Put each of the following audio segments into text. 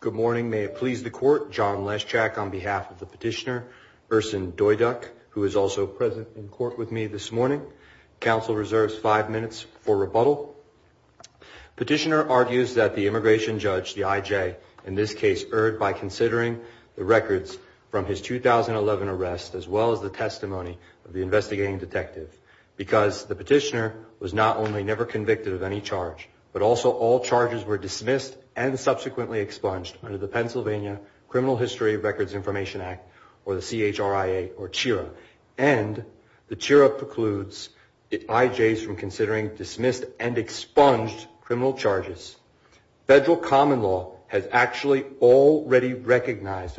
Good morning. May it please the court. John Leschak on behalf of the petitioner, Ersin Doyduk, who is also present in court with me this morning, counsel reserves five minutes for rebuttal. Petitioner argues that the immigration judge, the IJ, in this case, erred by considering the records from his 2011 arrest, as well as the testimony of the investigating detective, because the petitioner was not only never convicted of any charge, but also all charges were dismissed and subsequently expunged under the Pennsylvania Criminal History Records Information Act, or the CHRIA, or CHIRA, and the CHIRA precludes IJs from considering dismissed and expunged criminal charges. Federal common law has actually already recognized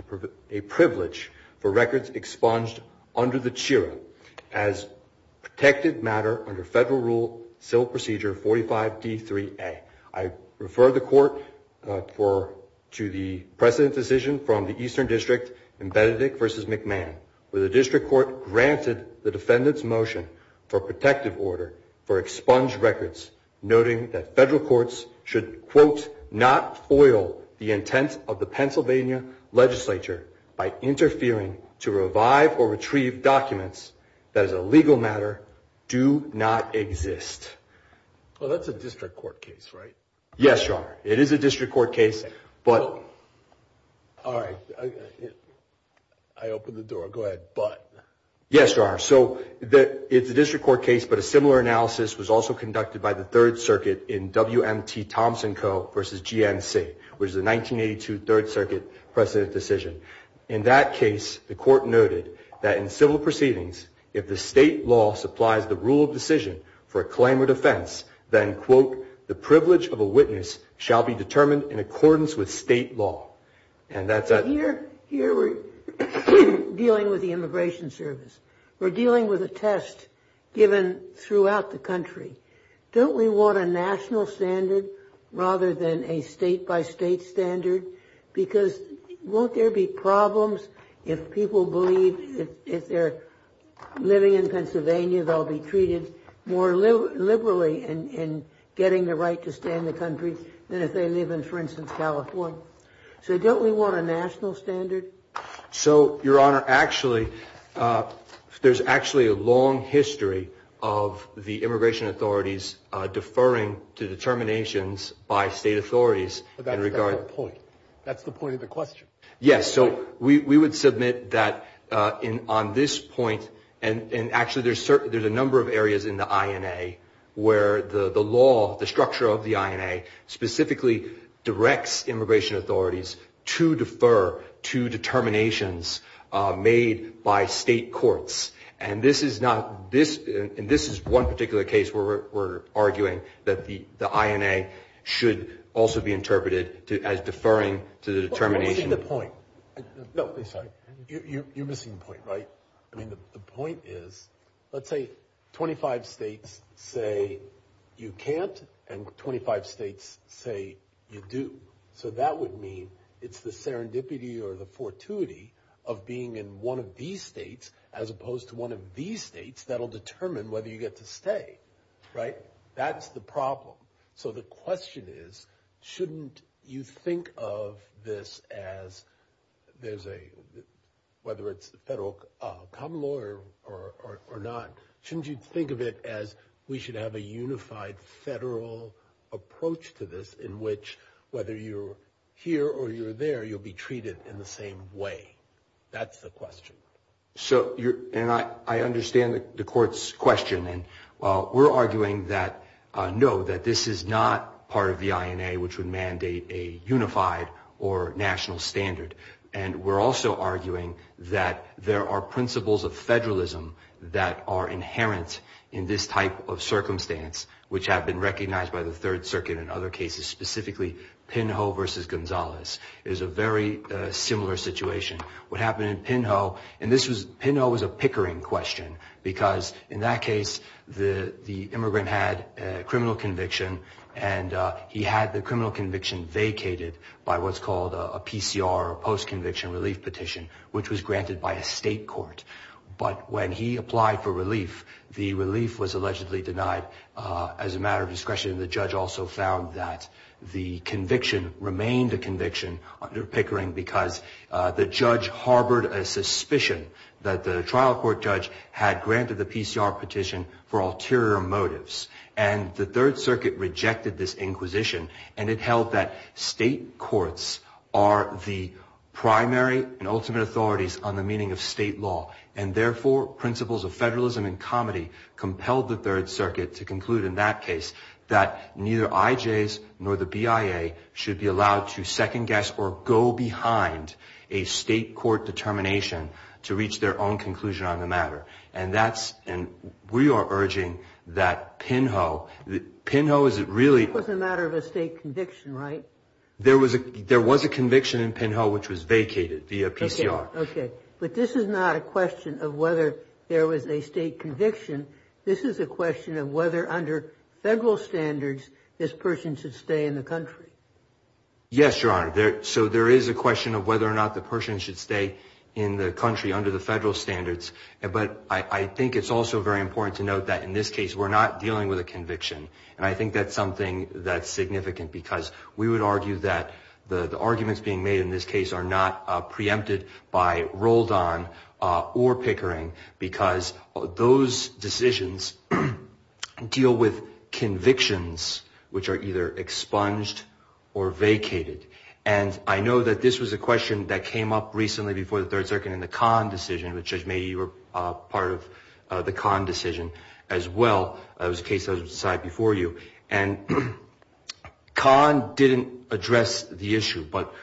a privilege for records expunged under the CHIRA as protected matter under federal rule, civil procedure 45 D3A. I refer the court to the precedent decision from the Eastern District in Benedict v. McMahon, where the district court granted the defendant's motion for protective order for expunged records, noting that federal courts should, quote, not foil the intent of the Pennsylvania legislature by interfering to revive or retrieve documents that as a legal matter do not exist. Well, that's a district court case, right? Yes, Your Honor. It is a district court case, but... All right. I opened the door. Go ahead. But... Yes, Your Honor. So it's a district court case, but a similar analysis was also conducted by the third circuit in WMT Thompson Co. v. GNC, which is the 1982 third circuit precedent decision. In that case, the court noted that in civil proceedings, if the state law supplies the rule of decision for a claim or defense, then, quote, the privilege of a witness shall be determined in accordance with state law. And that's... But here we're dealing with the Immigration Service. We're dealing with a test given throughout the country. Don't we want a national standard rather than a state by state standard? Because won't there be problems if people believe, if they're living in California, that they'll be treated more liberally in getting the right to stay in the country than if they live in, for instance, California? So don't we want a national standard? So, Your Honor, actually, there's actually a long history of the immigration authorities deferring to determinations by state authorities in regard... That's the point. That's the point of the question. Yes. So we would submit that on this point, and actually there's a number of areas in the INA where the law, the structure of the INA, specifically directs immigration authorities to defer to determinations made by state courts. And this is one particular case where we're arguing that the INA should also be interpreted as deferring to the determination... You're missing the point, right? I mean, the point is, let's say 25 states say you can't, and 25 states say you do. So that would mean it's the serendipity or the fortuity of being in one of these states as opposed to one of these states that'll determine whether you get to stay. Right? That's the problem. So the question is, shouldn't you think of this as there's a, whether it's the federal common law or not, shouldn't you think of it as we should have a unified federal approach to this in which whether you're here or you're there, you'll be treated in the same way? That's the question. So, and I understand the court's question. And while we're arguing that, no, that this is not part of the INA, which would mandate a unified or national standard. And we're also arguing that there are principles of federalism that are inherent in this type of circumstance, which have been recognized by the third circuit and other cases, specifically Pinho versus Gonzalez is a very similar situation. What happened in Pinho, and this was, Pinho was a pickering question because in that case, the, the immigrant had a criminal conviction and he had the criminal conviction vacated by what's called a PCR or post-conviction relief petition, which was granted by a state court. But when he applied for relief, the relief was allegedly denied as a matter of discretion. The judge also found that the conviction remained a conviction under pickering because the judge harbored a suspicion that the trial court judge had granted the PCR petition for ulterior motives and the third circuit rejected this inquisition. And it held that state courts are the primary and ultimate authorities on the meaning of state law. And therefore principles of federalism and comedy compelled the third circuit to conclude in that case that neither IJs nor the BIA should be allowed to second guess or go behind a state court determination to reach their own conclusion on the matter. And that's, and we are urging that Pinho, Pinho is it really... It was a matter of a state conviction, right? There was a, there was a conviction in Pinho, which was vacated via PCR. Okay. But this is not a question of whether there was a state conviction. This is a question of whether under federal standards, this person should stay in the country. Yes, Your Honor. There, so there is a question of whether or not the person should stay in the country under the federal standards. But I think it's also very important to note that in this case, we're not dealing with a conviction. And I think that's something that's significant because we would argue that the arguments being made in this case are not preempted by Roldan or Pickering because those decisions deal with convictions, which are either expunged or vacated. And I know that this was a question that came up recently before the third circuit in the Kahn decision, which Judge Mady, you were a part of the Kahn decision as well. It was a case that was decided before you. And Kahn didn't address the issue, but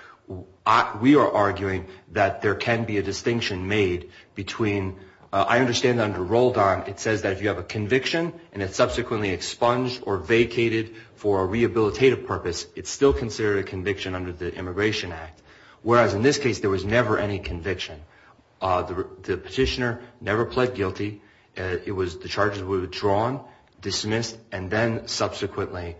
we are arguing that there can be a distinction made between, I understand that under Roldan, it says that if you have a conviction and it's subsequently expunged or vacated for a rehabilitative purpose, it's still considered a conviction under the Immigration Act. Whereas in this case, there was never any conviction. The petitioner never pled guilty. It was the charges were withdrawn, dismissed, and then subsequently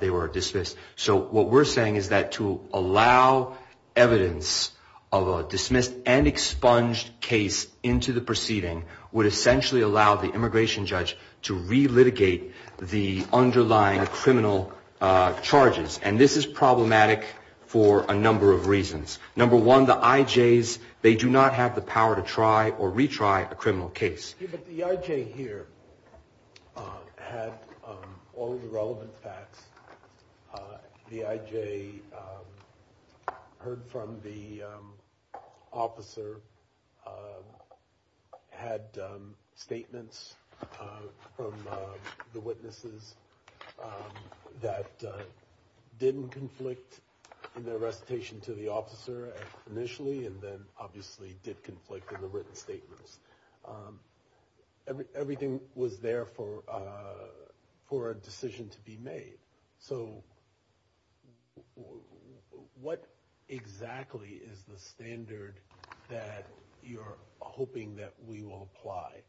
they were dismissed. So what we're saying is that to allow evidence of a dismissed and expunged case into the proceeding would essentially allow the immigration judge to relitigate the underlying criminal charges. And this is problematic for a number of reasons. Number one, the IJs, they do not have the power to try or retry a criminal case. But the IJ here had all the relevant facts. The IJ heard from the officer, had statements from the witnesses that didn't conflict in their recitation to the officer initially, and then obviously did conflict in the written statements. Everything was there for a decision to be made. So what exactly is the standard that you're hoping that we will apply?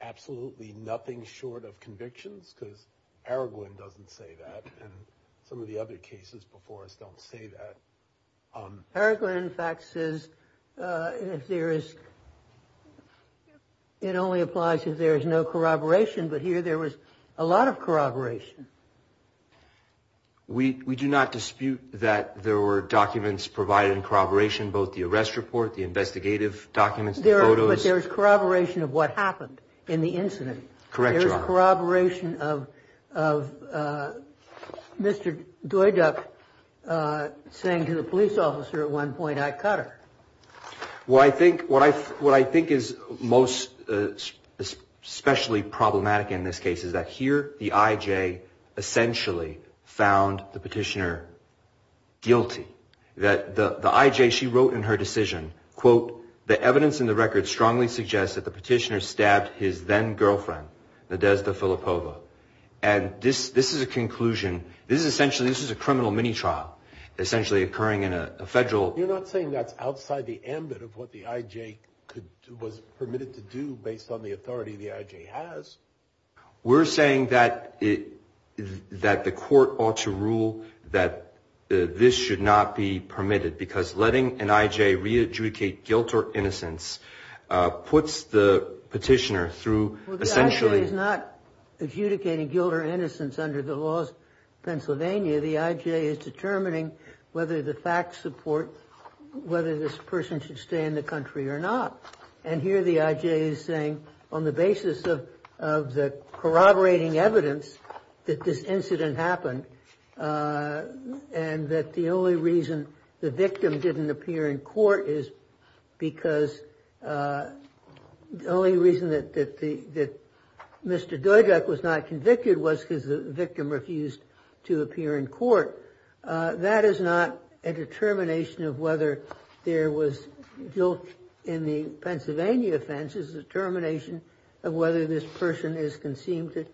Absolutely nothing short of convictions, because Araguin doesn't say that. And some of the other cases before us don't say that. Araguin, in fact, says it only applies if there is no corroboration. But here there was a lot of corroboration. We do not dispute that there were documents provided in corroboration, both the arrest report, the investigative documents, the photos. But there was corroboration of what happened in the incident. Correct, Your Honor. Corroboration of Mr. Duyduck saying to the police officer at one point, I cut her. Well, I think what I what I think is most especially problematic in this case is that here the IJ essentially found the petitioner guilty, that the IJ, she wrote in her decision, quote, The evidence in the record strongly suggests that the petitioner was his then girlfriend, Nadezhda Filippova. And this this is a conclusion. This is essentially this is a criminal mini trial essentially occurring in a federal. You're not saying that's outside the ambit of what the IJ could was permitted to do based on the authority the IJ has. We're saying that it that the court ought to rule that this should not be permitted because letting an IJ re-adjudicate guilt or innocence puts the petitioner through essentially is not adjudicating guilt or innocence under the laws of Pennsylvania. The IJ is determining whether the facts support whether this person should stay in the country or not. And here the IJ is saying on the basis of of the corroborating evidence that this victim didn't appear in court is because the only reason that the that Mr. Dudek was not convicted was because the victim refused to appear in court. That is not a determination of whether there was guilt in the Pennsylvania offense is a determination of whether this person is consumed,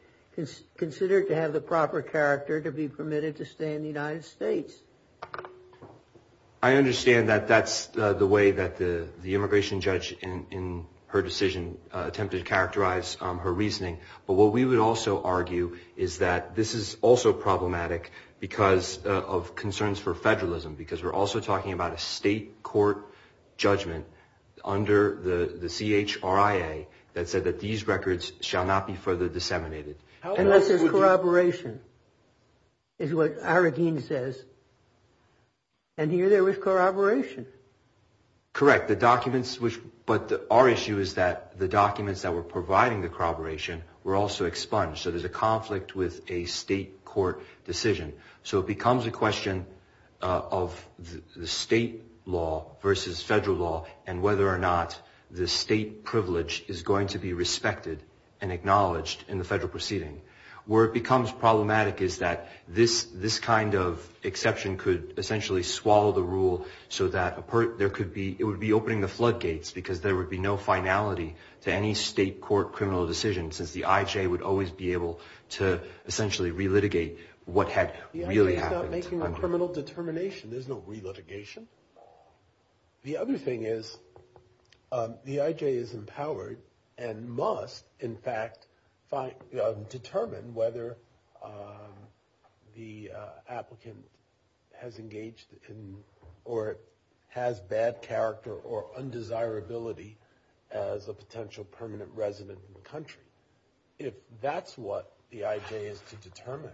considered to have the proper character to be permitted to stay in the United States. I understand that that's the way that the immigration judge in her decision attempted to characterize her reasoning. But what we would also argue is that this is also problematic because of concerns for federalism, because we're also talking about a state court judgment under the CHRIA that said that these records shall not be further disseminated. Unless there's corroboration. Is what Arakeen says. And here there was corroboration. Correct, the documents which but our issue is that the documents that were providing the corroboration were also expunged. So there's a conflict with a state court decision. So it becomes a question of the state law versus federal law and whether or not the state privilege is going to be respected and acknowledged in the federal proceeding. Where it becomes problematic is that this this kind of exception could essentially swallow the rule so that there could be it would be opening the floodgates because there would be no finality to any state court criminal decision since the IJ would always be able to essentially re-litigate what had really happened. The IJ is not making a criminal determination. There's no re-litigation. The other thing is the IJ is empowered and must in fact find determine whether the applicant has engaged in or has bad character or undesirability as a potential permanent resident in the country. If that's what the IJ is to determine,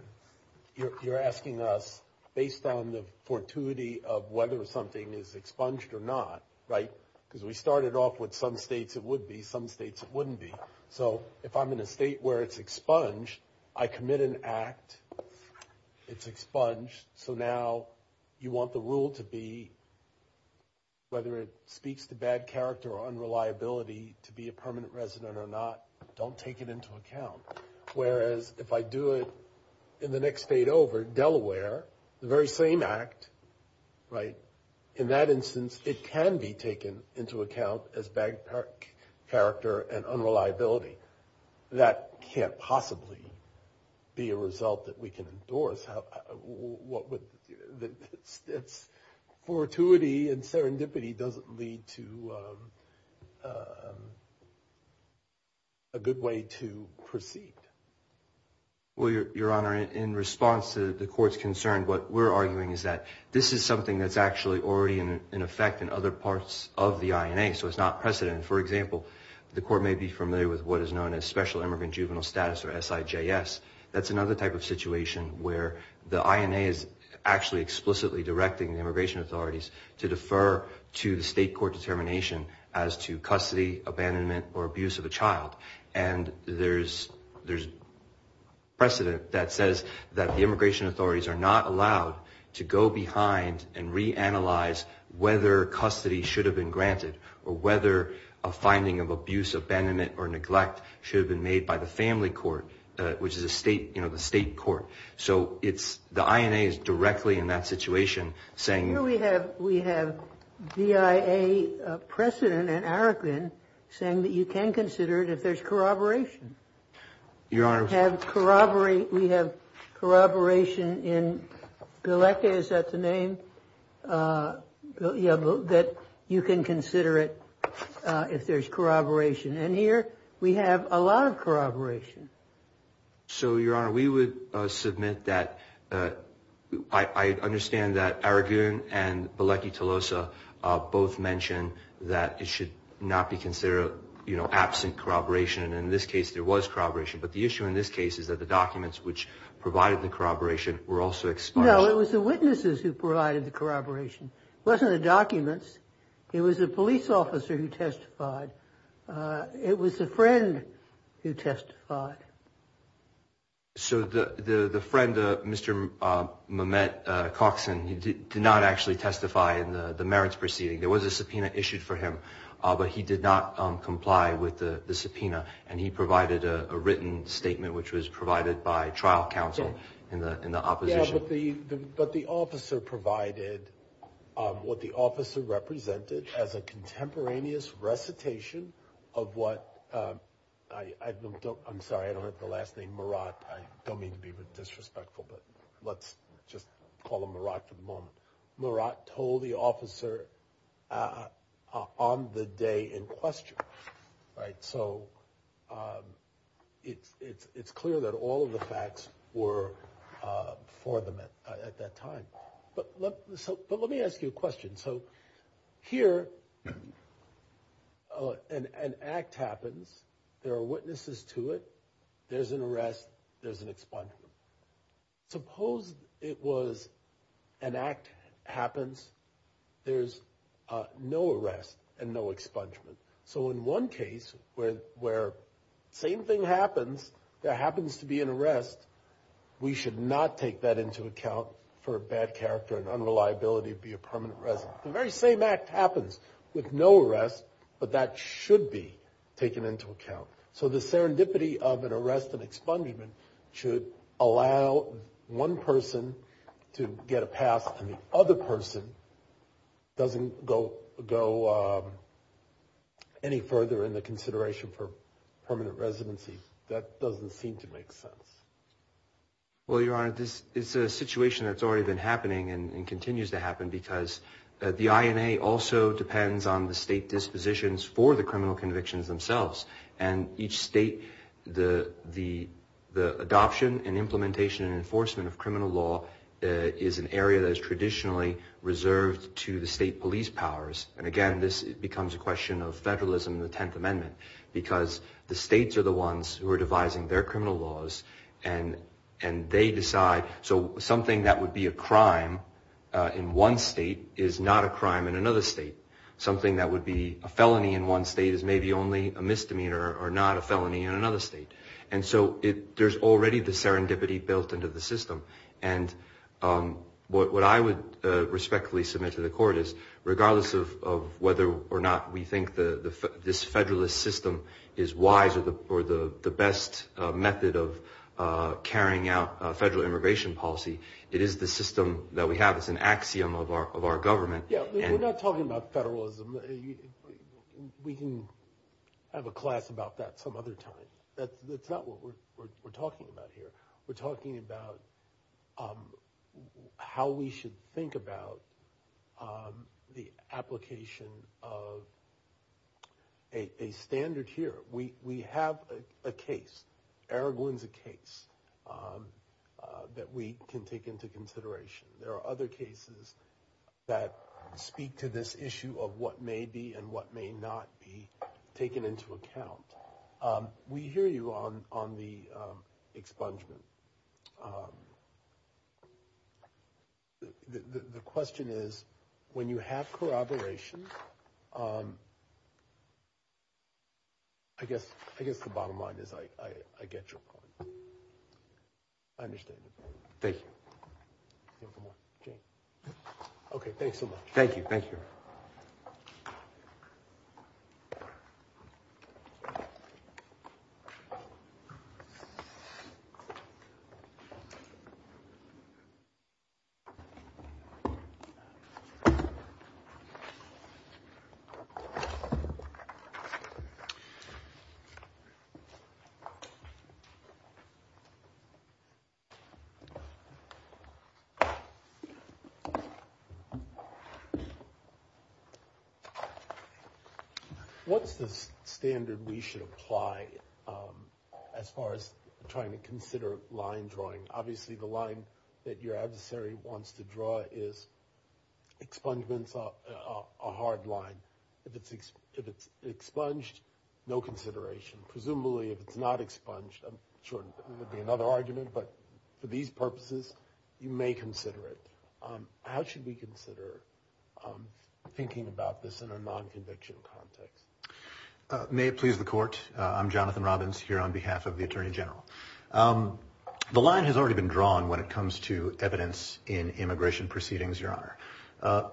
you're asking us based on the fortuity of whether something is expunged or not, right, because we started off with some states it would be, some states it wouldn't be. So if I'm in a state where it's expunged, I commit an act, it's expunged. So now you want the rule to be whether it speaks to bad character or unreliability to be a permanent resident or not, don't take it into account. Whereas if I do it in the next state over, Delaware, the very same act, right, in that instance, it can be taken into account as bad character and unreliability. That can't possibly be a result that we can endorse. Fortuity and serendipity doesn't lead to a good way to proceed. Well, Your Honor, in response to the court's concern, what we're arguing is that this is something that's actually already in effect in other parts of the INA, so it's not precedent. For example, the court may be familiar with what is known as Special Immigrant Juvenile Status or SIJS. That's another type of situation where the INA is actually explicitly directing the immigration authorities to defer to the state court determination as to custody, abandonment or abuse of a child. And there's precedent that says that the immigration authorities are not allowed to go behind and reanalyze whether custody should have been granted or whether a finding of abuse, abandonment or neglect should have been made by the family court, which is a state, you know, the state court. So it's the INA is directly in that situation saying we have we have VIA precedent and Aroquin saying that you can consider it if there's corroboration. Your Honor, we have corroboration in Galecki, is that the name that you can consider it if there's corroboration. And here we have a lot of corroboration. So, Your Honor, we would submit that I understand that Aroquin and Galecki-Tolosa both mentioned that it should not be considered, you know, absent corroboration. And in this case, there was corroboration. But the issue in this case is that the documents which provided the corroboration were also expired. No, it was the witnesses who provided the corroboration, wasn't the documents. It was a police officer who testified. It was a friend who testified. So the friend, Mr. Mamet-Coxon, he did not actually testify in the merits proceeding. There was a subpoena issued for him, but he did not comply with the subpoena. And he provided a written statement, which was provided by trial counsel in the opposition. But the officer provided what the officer represented as a contemporaneous recitation of what I don't, I'm sorry, I don't have the last name, Murat. I don't mean to be disrespectful, but let's just call him Murat for the moment. Murat told the officer on the day in question, right? So it's clear that all of the facts were for them at that time. But let me ask you a question. So here, an act happens, there are witnesses to it, there's an arrest, there's an expungement. Suppose it was an act happens, there's no arrest and no expungement. So in one case where the same thing happens, there happens to be an arrest, we should not take that into account for bad character and unreliability to be a very same act happens with no arrest, but that should be taken into account. So the serendipity of an arrest and expungement should allow one person to get a pass and the other person doesn't go any further in the consideration for permanent residency. That doesn't seem to make sense. Well, Your Honor, this is a situation that's already been happening and continues to happen. The INA also depends on the state dispositions for the criminal convictions themselves. And each state, the adoption and implementation and enforcement of criminal law is an area that is traditionally reserved to the state police powers. And again, this becomes a question of federalism in the Tenth Amendment because the states are the ones who are devising their criminal laws and they decide. So something that would be a crime in one state is not a crime in another state. Something that would be a felony in one state is maybe only a misdemeanor or not a felony in another state. And so there's already the serendipity built into the system. And what I would respectfully submit to the court is regardless of whether or not we have a federal immigration policy, it is the system that we have that's an axiom of our government. Yeah, we're not talking about federalism. We can have a class about that some other time. That's not what we're talking about here. We're talking about how we should think about the application of a standard here. We have a case, Araglan's a case that we can take into consideration. There are other cases that speak to this issue of what may be and what may not be taken into account. We hear you on the expungement. The question is, when you have corroboration, I guess, I guess the bottom line is I get your point. I understand. Thank you. OK, thanks so much. Thank you. Thank you. What's the standard we should apply as far as trying to consider line drawing? Obviously, the line that your adversary wants to draw is expungements, a hard line. If it's if it's expunged, no consideration. Presumably, if it's not expunged, I'm sure it would be another argument. But for these purposes, you may consider it. How should we consider thinking about this in a non-conviction context? May it please the court. I'm Jonathan Robbins here on behalf of the attorney general. The line has already been drawn when it comes to evidence in immigration proceedings, Your Honor.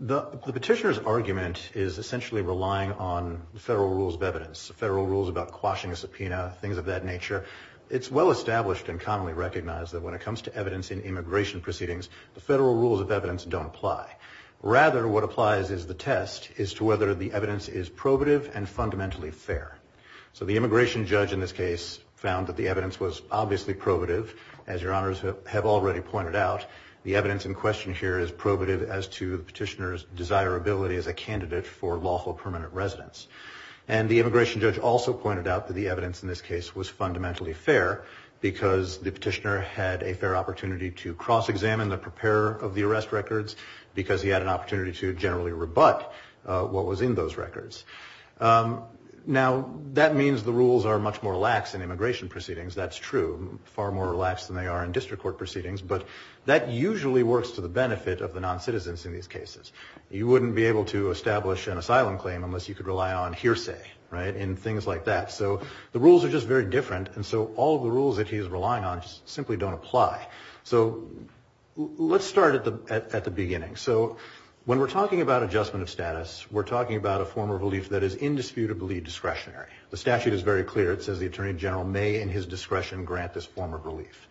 The petitioner's argument is essentially relying on federal rules of evidence, federal rules about quashing a subpoena, things of that nature. It's well established and commonly recognized that when it comes to evidence in immigration proceedings, the federal rules of evidence don't apply. Rather, what applies is the test as to whether the evidence is probative and fundamentally fair. So the immigration judge in this case found that the evidence was obviously probative. As Your Honors have already pointed out, the evidence in question here is probative as to the petitioner's desirability as a candidate for lawful permanent residence. And the immigration judge also pointed out that the evidence in this case was fundamentally fair because the petitioner had a fair opportunity to cross-examine the preparer of the arrest records because he had an opportunity to generally rebut what was in those records. Now, that means the rules are much more lax in immigration proceedings. That's true. Far more lax than they are in district court proceedings. But that usually works to the benefit of the non-citizens in these cases. You wouldn't be able to establish an asylum claim unless you could rely on hearsay, right, and things like that. So the rules are just very different. And so all of the rules that he's relying on simply don't apply. So let's start at the beginning. So when we're talking about adjustment of status, we're talking about a form of relief that is indisputably discretionary. The statute is very clear. It says the attorney general may, in his discretion, grant this form of relief.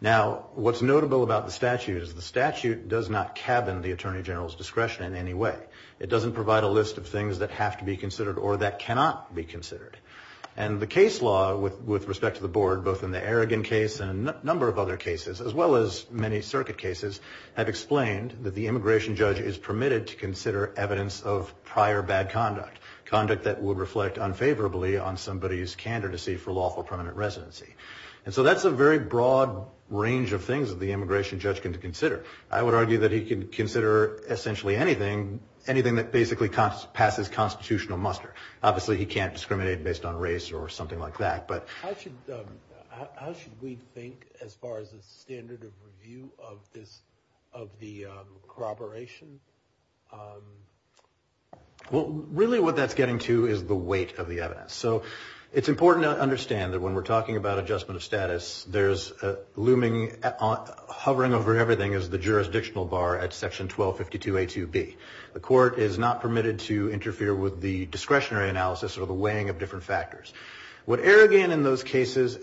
Now, what's notable about the statute is the statute does not cabin the attorney general's discretion in any way. It doesn't provide a list of things that have to be considered or that cannot be considered. And the case law, with respect to the board, both in the Aragon case and a number of other cases, as well as many circuit cases, have explained that the immigration judge is permitted to consider evidence of prior bad conduct, conduct that would reflect unfavorably on somebody's candidacy for lawful permanent residency. And so that's a very broad range of things that the immigration judge can consider. I would argue that he can consider essentially anything, anything that basically passes constitutional muster. Obviously, he can't discriminate based on race or something like that. How should we think as far as the standard of review of this, of the corroboration? Well, really what that's getting to is the weight of the evidence. So it's important to understand that when we're talking about adjustment of status, there's looming, hovering over everything is the jurisdictional bar at Section 1252A2B. The court is not permitted to interfere with the discretionary analysis or the weighing of different factors. What Aragon in those cases,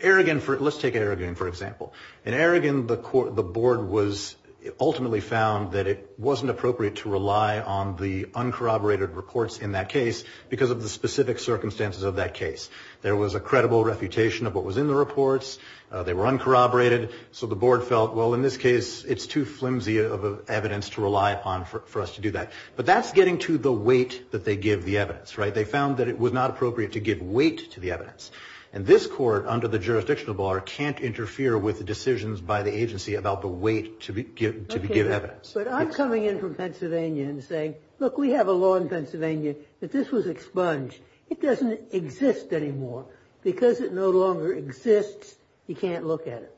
Aragon, let's take Aragon, for example, in Aragon, the court, the board was ultimately found that it wasn't appropriate to rely on the uncorroborated reports in that case because of the specific circumstances of that case. There was a credible refutation of what was in the reports. They were uncorroborated. So the board felt, well, in this case, it's too flimsy of evidence to rely upon for us to do that. But that's getting to the weight that they give the evidence, right? They found that it was not appropriate to give weight to the evidence. And this court, under the jurisdictional bar, can't interfere with decisions by the agency about the weight to give evidence. But I'm coming in from Pennsylvania and saying, look, we have a law in Pennsylvania that this was expunged. It doesn't exist anymore. Because it no longer exists, you can't look at it.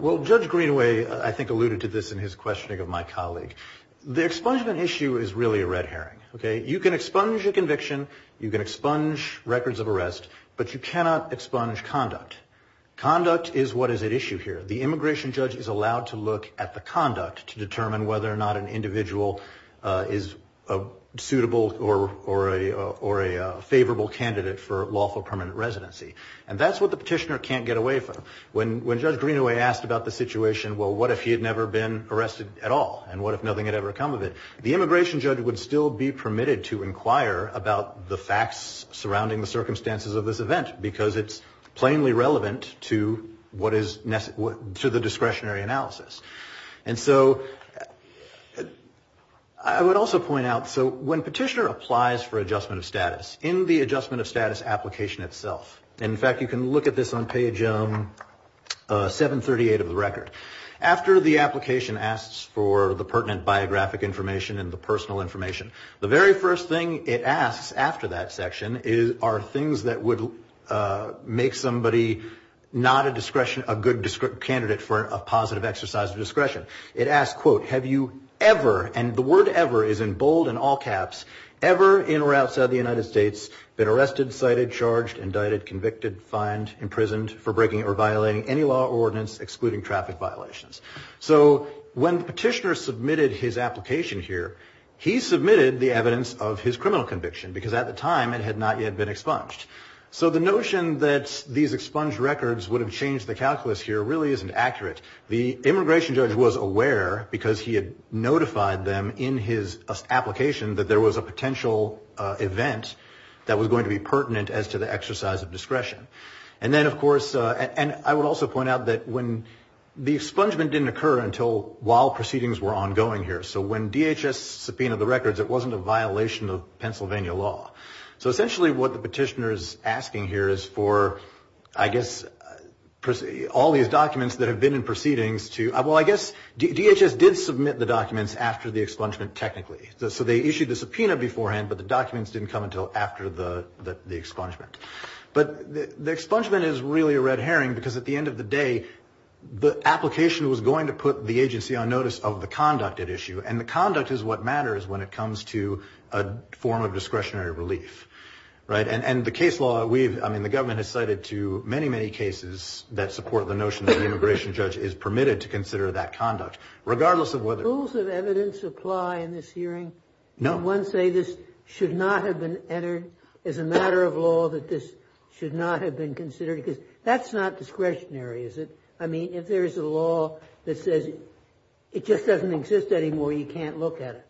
Well, Judge Greenaway, I think, alluded to this in his questioning of my colleague. The expungement issue is really a red herring. You can expunge a conviction, you can expunge records of arrest, but you cannot expunge conduct. Conduct is what is at issue here. The immigration judge is allowed to look at the conduct to determine whether or not an individual is a suitable or a favorable candidate for lawful permanent residency. And that's what the petitioner can't get away from. When Judge Greenaway asked about the situation, well, what if he had never been arrested at all? And what if nothing had ever come of it? The immigration judge would still be permitted to inquire about the facts surrounding the circumstances of this event because it's plainly relevant to what is necessary to the discretionary analysis. And so I would also point out, so when petitioner applies for adjustment of status in the adjustment of status application itself, in fact, you can look at this on page 738 of the record. After the application asks for the pertinent biographic information and the personal information, the very first thing it asks after that section are things that would make somebody not a good candidate for a positive exercise of discretion. It asks, quote, Have you ever, and the word ever is in bold and all caps, ever in or outside the United States been arrested, cited, charged, indicted, convicted, fined, imprisoned for breaking or violating any law or ordinance excluding traffic violations? So when the petitioner submitted his application here, he submitted the evidence of his criminal conviction because at the time it had not yet been expunged. So the notion that these expunged records would have changed the calculus here really isn't accurate. The immigration judge was aware because he had notified them in his application that there was a potential event that was going to be pertinent as to the exercise of discretion. And then, of course, and I would also point out that when the expungement didn't occur until while proceedings were ongoing here. So when DHS subpoenaed the records, it wasn't a violation of Pennsylvania law. So essentially what the petitioner is asking here is for, I guess, all these documents that have been in proceedings to, well, I guess DHS did submit the documents after the expungement technically. So they issued the subpoena beforehand, but the documents didn't come until after the expungement. But the expungement is really a red herring because at the end of the day, the application was going to put the agency on notice of the conduct at issue. And the conduct is what matters when it comes to a form of discretionary relief. Right. And the case law we've I mean, the government has cited to many, many cases that support the notion that the immigration judge is permitted to consider that conduct, regardless of whether the rules of evidence apply in this hearing. No one say this should not have been entered as a matter of law, that this should not have been considered because that's not discretionary, is it? I mean, if there is a law that says it just doesn't exist anymore, you can't look at it.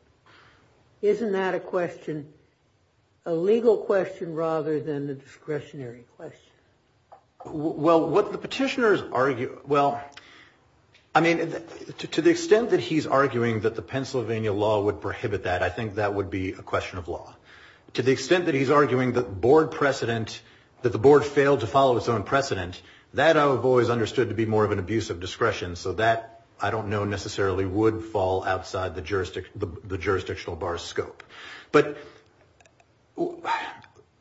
Isn't that a question, a legal question rather than the discretionary question? Well, what the petitioners argue, well, I mean, to the extent that he's arguing that the board failed to follow its own precedent, that would be a question of law to the extent that he's arguing that board precedent, that the board failed to follow its own precedent, that I've always understood to be more of an abuse of discretion. So that I don't know necessarily would fall outside the jurisdiction, the jurisdictional bar scope. But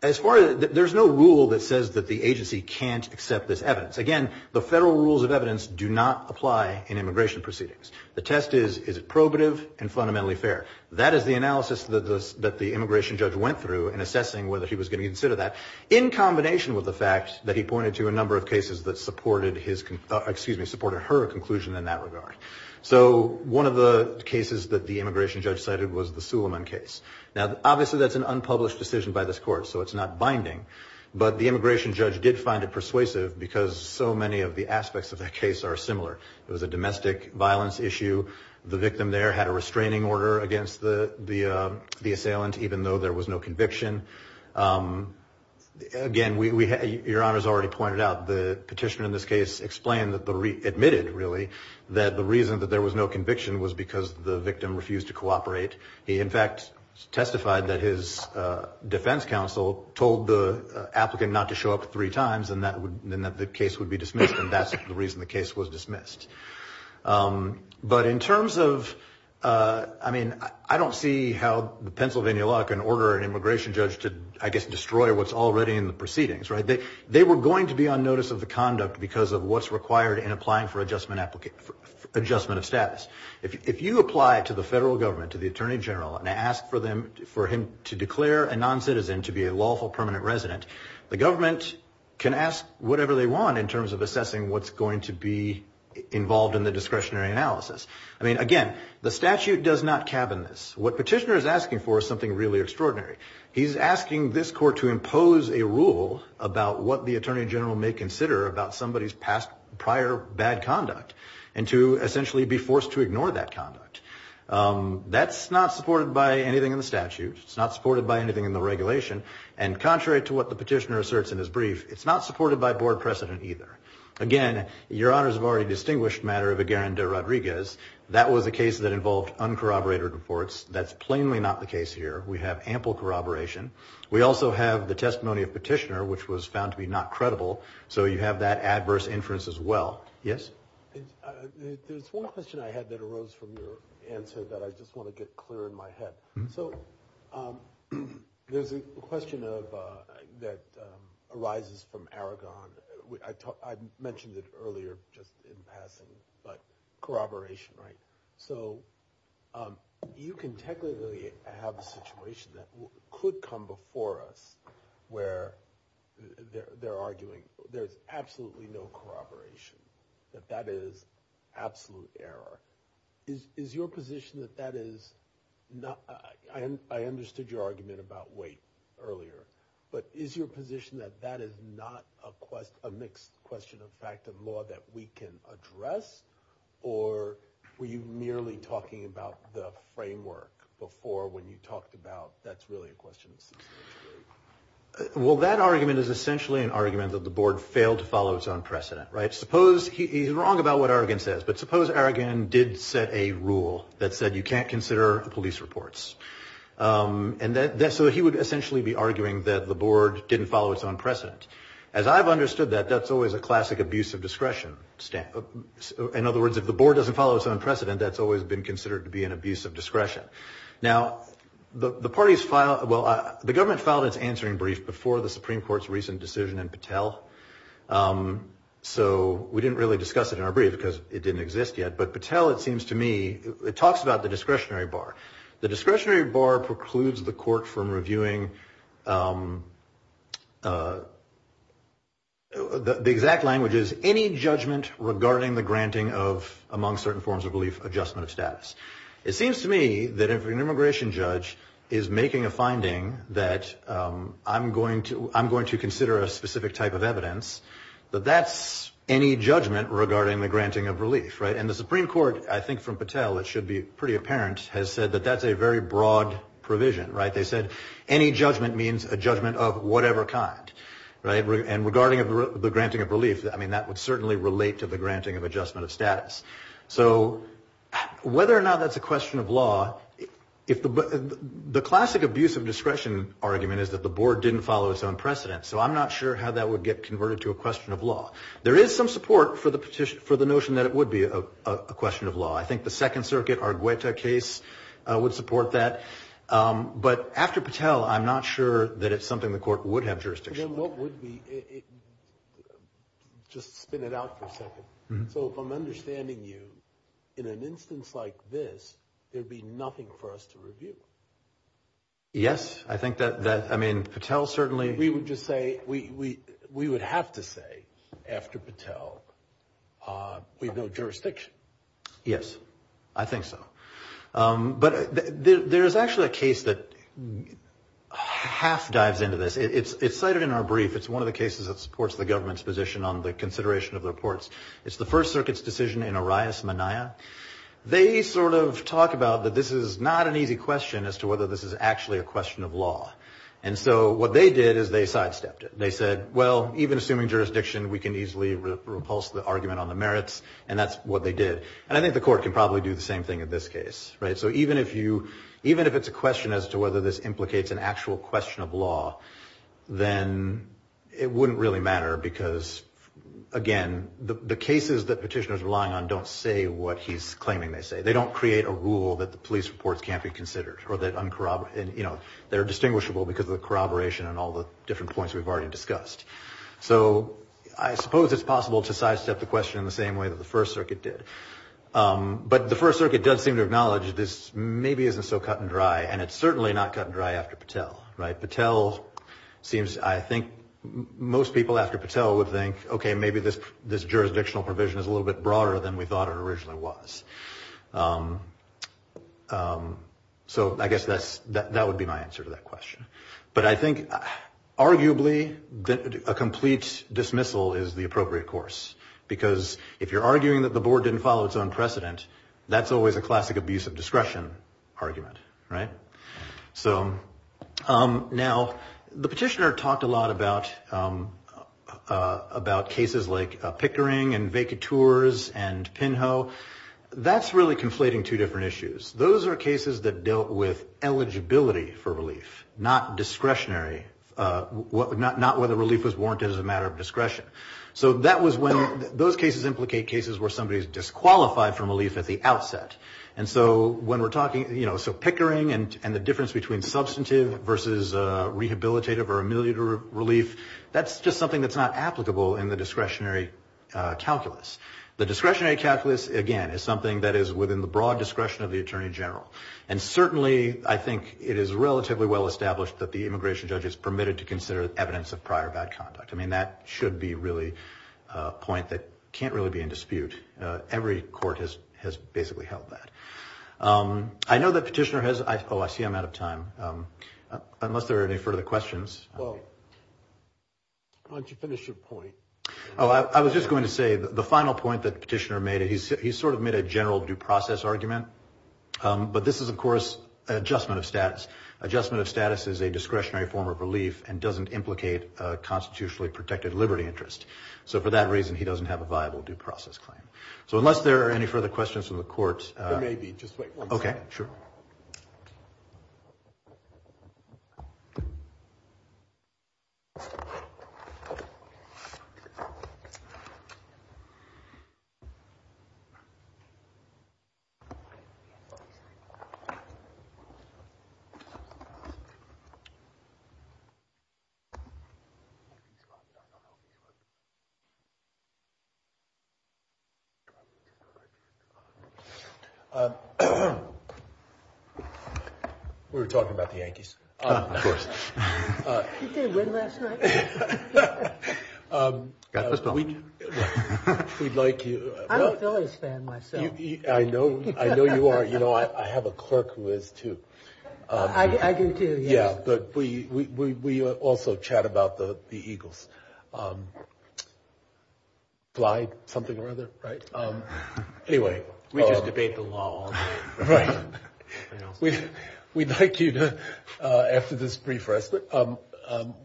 as far as there's no rule that says that the agency can't accept this evidence. Again, the federal rules of evidence do not apply in immigration proceedings. The test is, is it probative and fundamentally fair? That is the analysis that the immigration judge went through in assessing whether he was going to consider that in combination with the fact that he pointed to a number of cases that supported his, excuse me, supported her conclusion in that regard. So one of the cases that the immigration judge cited was the Suleiman case. Now, obviously, that's an unpublished decision by this court, so it's not binding. But the immigration judge did find it persuasive because so many of the aspects of that case are similar. It was a domestic violence issue. The victim there had a restraining order against the assailant, even though there was no conviction. Again, your Honor has already pointed out, the petitioner in this case explained, admitted really, that the reason that there was no conviction was because the victim refused to cooperate. He, in fact, testified that his defense counsel told the applicant not to show up three times and that the case would be dismissed, and that's the reason the case was dismissed. But in terms of, I mean, I don't see how the Pennsylvania law can order an immigration judge to, I guess, destroy what's already in the proceedings, right? They were going to be on notice of the conduct because of what's required in applying for adjustment of status. If you apply to the federal government, to the attorney general, and ask for him to can ask whatever they want in terms of assessing what's going to be involved in the discretionary analysis. I mean, again, the statute does not cabin this. What petitioner is asking for is something really extraordinary. He's asking this court to impose a rule about what the attorney general may consider about somebody's past prior bad conduct and to essentially be forced to ignore that conduct. That's not supported by anything in the statute. It's not supported by anything in the regulation. And contrary to what the petitioner asserts in his brief, it's not supported by board precedent either. Again, your honors have already distinguished the matter of a Aguirre-Rodriguez. That was a case that involved uncorroborated reports. That's plainly not the case here. We have ample corroboration. We also have the testimony of petitioner, which was found to be not credible. So you have that adverse inference as well. Yes. There's one question I had that arose from your answer that I just want to get clear in my head. So there's a question of that arises from Aragon. I mentioned it earlier just in passing, but corroboration. Right. So you can technically have a situation that could come before us where they're arguing there's absolutely no corroboration, that that is absolute error. Is your position that that is not? I understood your argument about weight earlier, but is your position that that is not a quest, a mixed question of fact of law that we can address? Or were you merely talking about the framework before when you talked about that's really a question? Well, that argument is essentially an argument that the board failed to follow its own precedent. Right. Suppose he's wrong about what Aragon says. But suppose Aragon did set a rule that said you can't consider police reports and that so he would essentially be arguing that the board didn't follow its own precedent. As I've understood that, that's always a classic abuse of discretion. In other words, if the board doesn't follow its own precedent, that's always been considered to be an abuse of discretion. Now, the parties file. Well, the government filed its answering brief before the Supreme Court's recent decision in Patel. So we didn't really discuss it in our brief because it didn't exist yet. But Patel, it seems to me it talks about the discretionary bar. The discretionary bar precludes the court from reviewing. The exact language is any judgment regarding the granting of among certain forms of belief, adjustment of status. It seems to me that if an immigration judge is making a finding that I'm going to I'm going to have evidence that that's any judgment regarding the granting of relief. Right. And the Supreme Court, I think from Patel, it should be pretty apparent, has said that that's a very broad provision. Right. They said any judgment means a judgment of whatever kind. Right. And regarding the granting of relief, I mean, that would certainly relate to the granting of adjustment of status. So whether or not that's a question of law, if the classic abuse of discretion argument is that the board didn't follow its own precedent. So I'm not sure how that would get converted to a question of law. There is some support for the petition for the notion that it would be a question of law. I think the Second Circuit or Guetta case would support that. But after Patel, I'm not sure that it's something the court would have jurisdiction. Then what would be? Just spin it out for a second. So if I'm understanding you in an instance like this, there'd be nothing for us to review. Yes, I think that that I mean, Patel certainly. We would just say we we we would have to say after Patel we have no jurisdiction. Yes, I think so. But there is actually a case that half dives into this. It's cited in our brief. It's one of the cases that supports the government's position on the consideration of the reports. It's the First Circuit's decision in Arias-Maniah. They sort of talk about that this is not an easy question as to whether this is actually a question of law. And so what they did is they sidestepped it. They said, well, even assuming jurisdiction, we can easily repulse the argument on the merits. And that's what they did. And I think the court can probably do the same thing in this case. Right. So even if you even if it's a question as to whether this implicates an actual question of law, then it wouldn't really matter because, again, the cases that petitioners relying on don't say what he's claiming. They say they don't create a rule that the police reports can't be considered or that they're distinguishable because of the corroboration and all the different points we've already discussed. So I suppose it's possible to sidestep the question in the same way that the First Circuit did. But the First Circuit does seem to acknowledge this maybe isn't so cut and dry. And it's certainly not cut and dry after Patel. Right. Patel seems I think most people after Patel would think, OK, maybe this this jurisdictional provision is a little bit broader than we thought it originally was. So I guess that's that would be my answer to that question. But I think arguably a complete dismissal is the appropriate course, because if you're arguing that the board didn't follow its own precedent, that's always a classic abuse of discretion argument. Right. So now the petitioner talked a lot about about cases like Pickering and McIntyre's and Pinho. That's really conflating two different issues. Those are cases that dealt with eligibility for relief, not discretionary, not whether relief was warranted as a matter of discretion. So that was when those cases implicate cases where somebody is disqualified from relief at the outset. And so when we're talking, you know, so Pickering and the difference between substantive versus rehabilitative or ameliorative relief, that's just something that's not applicable in the discretionary calculus. The discretionary calculus, again, is something that is within the broad discretion of the attorney general. And certainly I think it is relatively well established that the immigration judge is permitted to consider evidence of prior bad conduct. I mean, that should be really a point that can't really be in dispute. Every court has has basically held that. I know the petitioner has. Oh, I see I'm out of time unless there are any further questions. Well. Why don't you finish your point? Oh, I was just going to say the final point that petitioner made, he sort of made a general due process argument. But this is, of course, an adjustment of status. Adjustment of status is a discretionary form of relief and doesn't implicate a constitutionally protected liberty interest. So for that reason, he doesn't have a viable due process claim. So unless there are any further questions from the court, maybe just wait. OK, sure. We were talking about the Yankees, of course. Did they win last night? We'd like you. I'm a Phillies fan myself. I know. I know you are. You know, I have a clerk who is, too. I do, too. Yeah. But we also chat about the Eagles. Bly, something or other. Right. Anyway, we just debate the law all day. Right. We'd like you to, after this brief rest,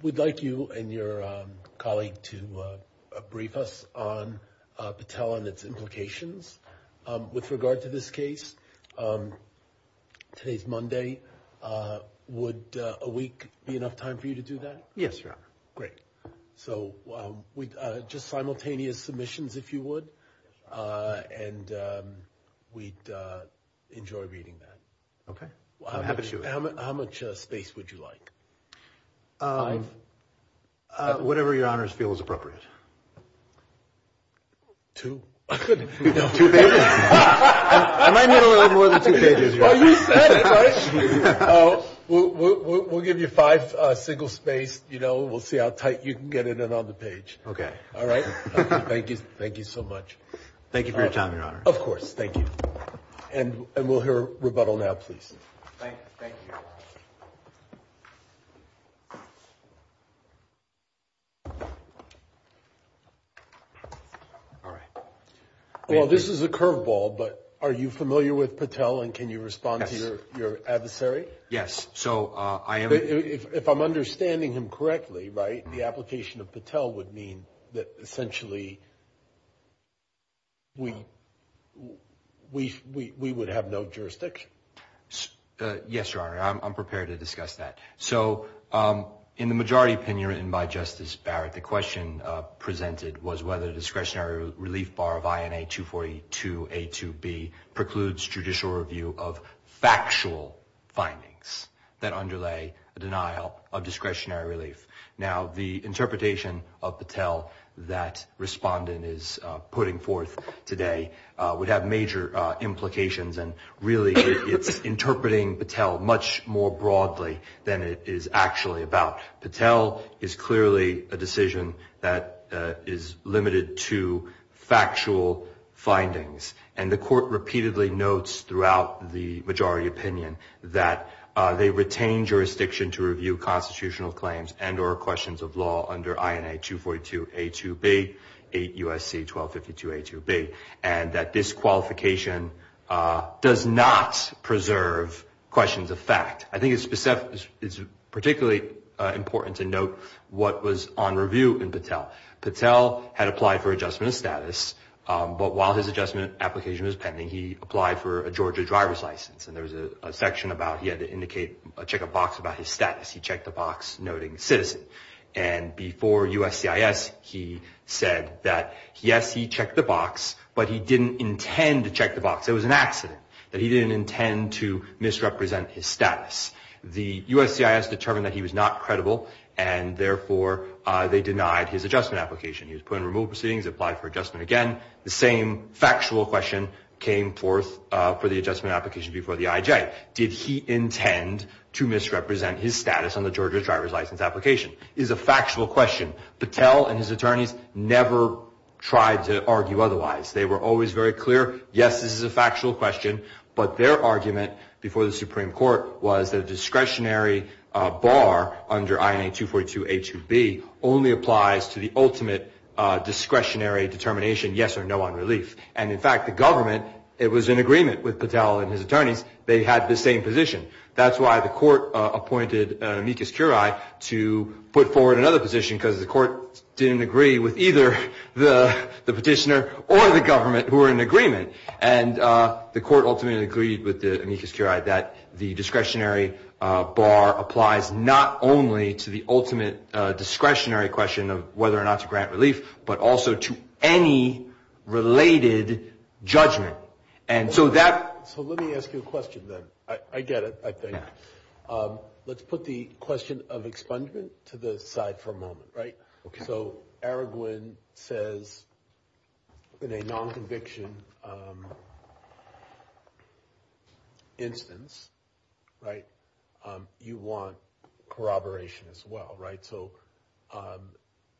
we'd like you and your colleague to brief us on Patel and its implications with regard to this case. Today's Monday, would a week be enough time for you to do that? Yes, Your Honor. Great. So just simultaneous submissions, if you would. And we'd enjoy reading that. OK. How much space would you like? Five. Whatever your honors feel is appropriate. Two, two pages. I might need a little more than two pages. We'll give you five single space. You know, we'll see how tight you can get it in on the page. OK. All right. Thank you. Thank you so much. Thank you for your time, Your Honor. Of course. Thank you. And we'll hear rebuttal now, please. Thank you. All right. Well, this is a curveball, but are you familiar with Patel? And can you respond to your adversary? Yes. So I am. If I'm understanding him correctly, right. The application of Patel would mean that essentially. We we we would have no jurisdiction. Yes, Your Honor. I'm prepared to discuss that. So in the majority of the cases that we've heard, the majority opinion written by Justice Barrett, the question presented was whether the discretionary relief bar of INA 242 A to B precludes judicial review of factual findings that underlay a denial of discretionary relief. Now, the interpretation of Patel that respondent is putting forth today would have major implications. And really, it's interpreting Patel much more broadly than it does. Patel is clearly a decision that is limited to factual findings. And the court repeatedly notes throughout the majority opinion that they retain jurisdiction to review constitutional claims and or questions of law under INA 242 A to B, 8 U.S.C. 1252 A to B, and that this qualification does not preserve questions of fact. I think it's particularly important to note what was on review in Patel. Patel had applied for adjustment of status, but while his adjustment application was pending, he applied for a Georgia driver's license. And there was a section about he had to indicate a check a box about his status. He checked the box noting citizen. And before USCIS, he said that, yes, he checked the box, but he didn't intend to check the box. It was an accident that he didn't intend to misrepresent his status. The USCIS determined that he was not credible and therefore they denied his adjustment application. He was put in removal proceedings, applied for adjustment again. The same factual question came forth for the adjustment application before the IJ. Did he intend to misrepresent his status on the Georgia driver's license application is a factual question. Patel and his attorneys never tried to argue otherwise. They were always very clear. Yes, this is a factual question, but their argument before the Supreme Court was that a discretionary bar under INA 242 A2B only applies to the ultimate discretionary determination. Yes or no on relief. And in fact, the government, it was in agreement with Patel and his attorneys. They had the same position. That's why the court appointed Amicus Curia to put forward another position because the court didn't agree with either the petitioner or the government who were in agreement. And the court ultimately agreed with the Amicus Curia that the discretionary bar applies not only to the ultimate discretionary question of whether or not to grant relief, but also to any related judgment. And so that so let me ask you a question that I get it. I think let's put the question of expungement to the side for a moment. Right. So Araguin says in a non-conviction instance, right. You want corroboration as well. Right. So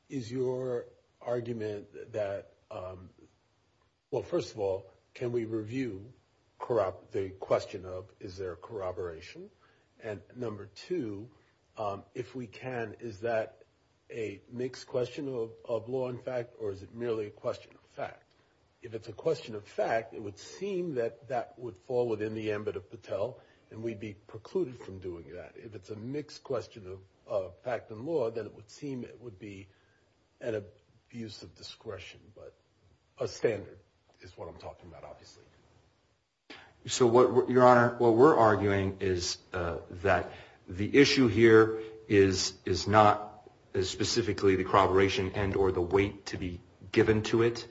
is your argument that. Well, first of all, can we review corrupt the question of is there corroboration? And number two, if we can, is that a mixed question of law and fact or is it merely a question of fact? If it's a question of fact, it would seem that that would fall within the ambit of Patel and we'd be precluded from doing that. If it's a mixed question of fact and law, then it would seem it would be an abuse of discretion. But a standard is what I'm talking about, obviously. So what your honor, what we're arguing is that the issue here is is not specifically the corroboration and or the weight to be given to it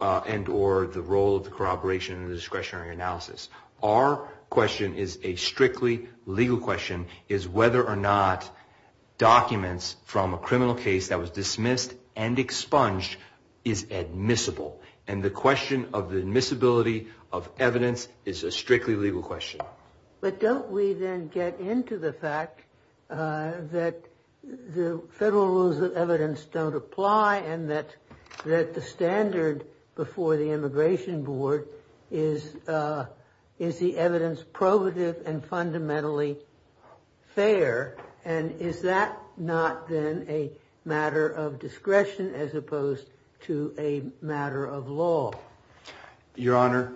and or the role of the corroboration and discretionary analysis. Our question is a strictly legal question is whether or not documents from a criminal case that was dismissed and expunged is admissible. And the question of the admissibility of evidence is a strictly legal question. But don't we then get into the fact that the federal rules of evidence don't apply and that that the standard before the Immigration Board is is the evidence probative and fundamentally fair? And is that not then a matter of discretion as opposed to a matter of law? Your honor,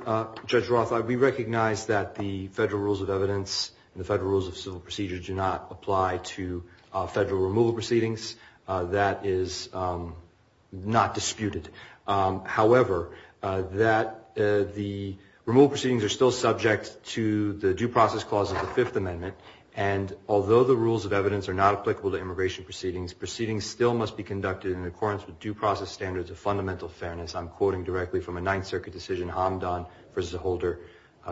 Judge Roth, we recognize that the federal rules of evidence and the federal rules of civil procedure do not apply to federal removal proceedings. That is not disputed. However, that the removal proceedings are still subject to the due process clause of the Fifth Amendment. And although the rules of evidence are not applicable to immigration proceedings, proceedings still must be conducted in accordance with due process standards of fundamental fairness. I'm quoting directly from a Ninth Circuit decision, Hamdan v. Holder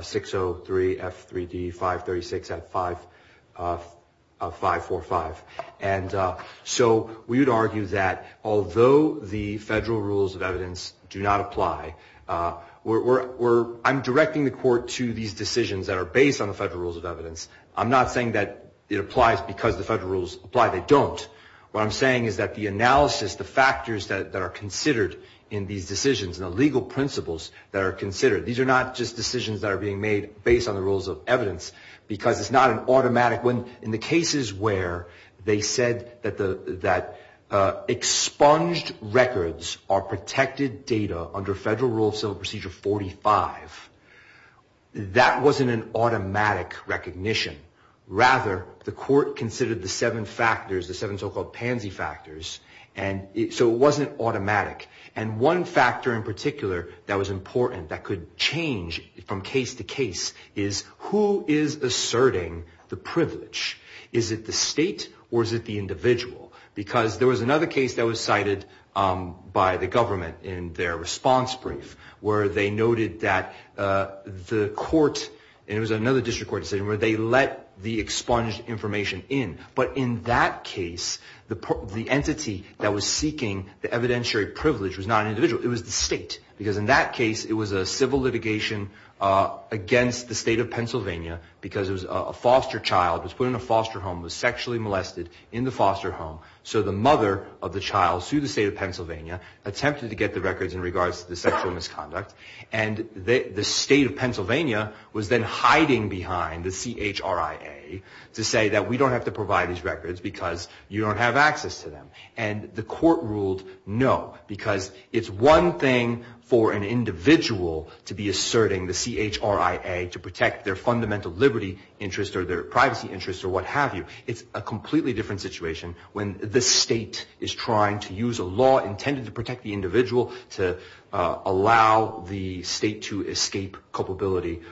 603 F3D 536 at 5545. And so we would argue that although the federal rules of evidence do not apply, we're I'm directing the court to these decisions that are based on the federal rules of evidence. I'm not saying that it applies because the federal rules apply. They don't. What I'm saying is that the analysis, the factors that are considered in these decisions and the legal principles that are considered, these are not just decisions that are being made based on the rules of evidence because it's not an automatic when in the cases where they said that the that expunged records are protected data under federal rule of civil procedure 45. That wasn't an automatic recognition. Rather, the court considered the seven factors, the seven so-called pansy factors. And so it wasn't automatic. And one factor in particular that was important that could change from case to case is who is asserting the privilege? Is it the state or is it the individual? Because there was another case that was cited by the government in their response brief where they noted that the court and it was another district court decision where they let the expunged information in. But in that case, the entity that was seeking the evidentiary privilege was not an individual. It was the state, because in that case it was a civil litigation against the state of Pennsylvania because it was a foster child was put in a foster home, was sexually molested in the foster home. So the mother of the child sued the state of Pennsylvania, attempted to get the records in regards to the sexual misconduct. And the state of Pennsylvania was then hiding behind the CHRIA to say that we don't have to provide these records because you don't have access to them. And the court ruled no, because it's one thing for an individual to be asserting the CHRIA to protect their fundamental liberty interest or their privacy interests or what have you. It's a completely different situation when the state is trying to use a law intended to protect the individual to allow the state to escape culpability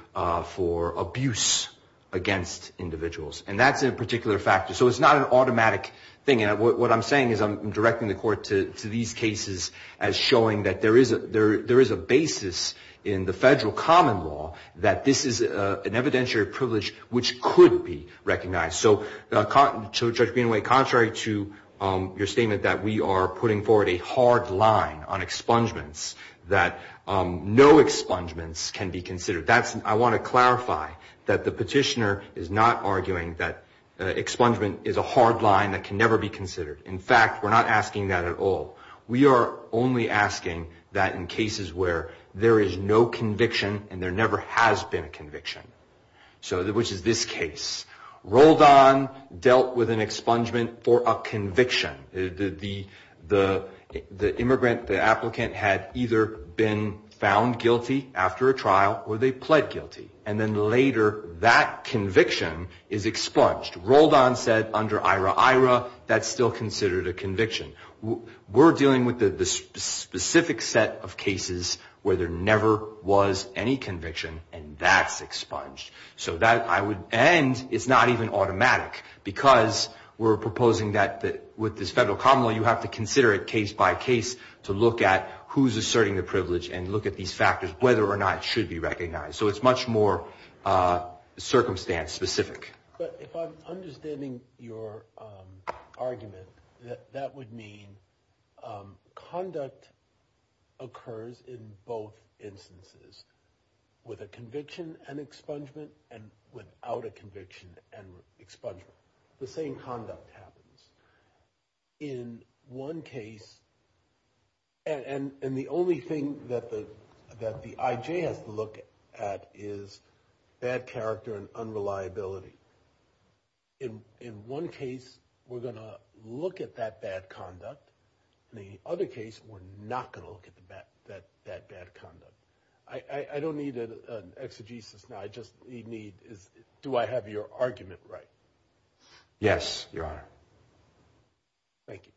for abuse against individuals. And that's a particular factor. So it's not an automatic thing. And what I'm saying is I'm directing the court to these cases as showing that there is a basis in the federal common law that this is an evidentiary privilege which could be recognized. So Judge Greenaway, contrary to your statement that we are putting forward a hard line on expungements, that no expungements can be considered, I want to clarify that the expungement is a hard line that can never be considered. In fact, we're not asking that at all. We are only asking that in cases where there is no conviction and there never has been a conviction. So which is this case. Roldan dealt with an expungement for a conviction. The immigrant, the applicant had either been found guilty after a trial or they pled guilty. And then later, that conviction is expunged. Roldan said under IRA-IRA, that's still considered a conviction. We're dealing with the specific set of cases where there never was any conviction and that's expunged. So that, I would, and it's not even automatic because we're proposing that with this federal common law, you have to consider it case by case to look at who's asserting the privilege and look at these factors, whether or not it should be recognized. So it's much more circumstance specific. But if I'm understanding your argument, that would mean conduct occurs in both instances with a conviction and expungement and without a conviction and expungement. The same conduct happens in one case. And the only thing that the that the IJ has to look at is bad character and unreliability. In one case, we're going to look at that bad conduct. In the other case, we're not going to look at the bad that that bad conduct. I don't need an exegesis now. I just need is do I have your argument right? Yes, Your Honor. Thank you.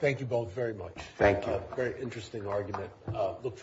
Thank you both very much. Thank you. A very interesting argument.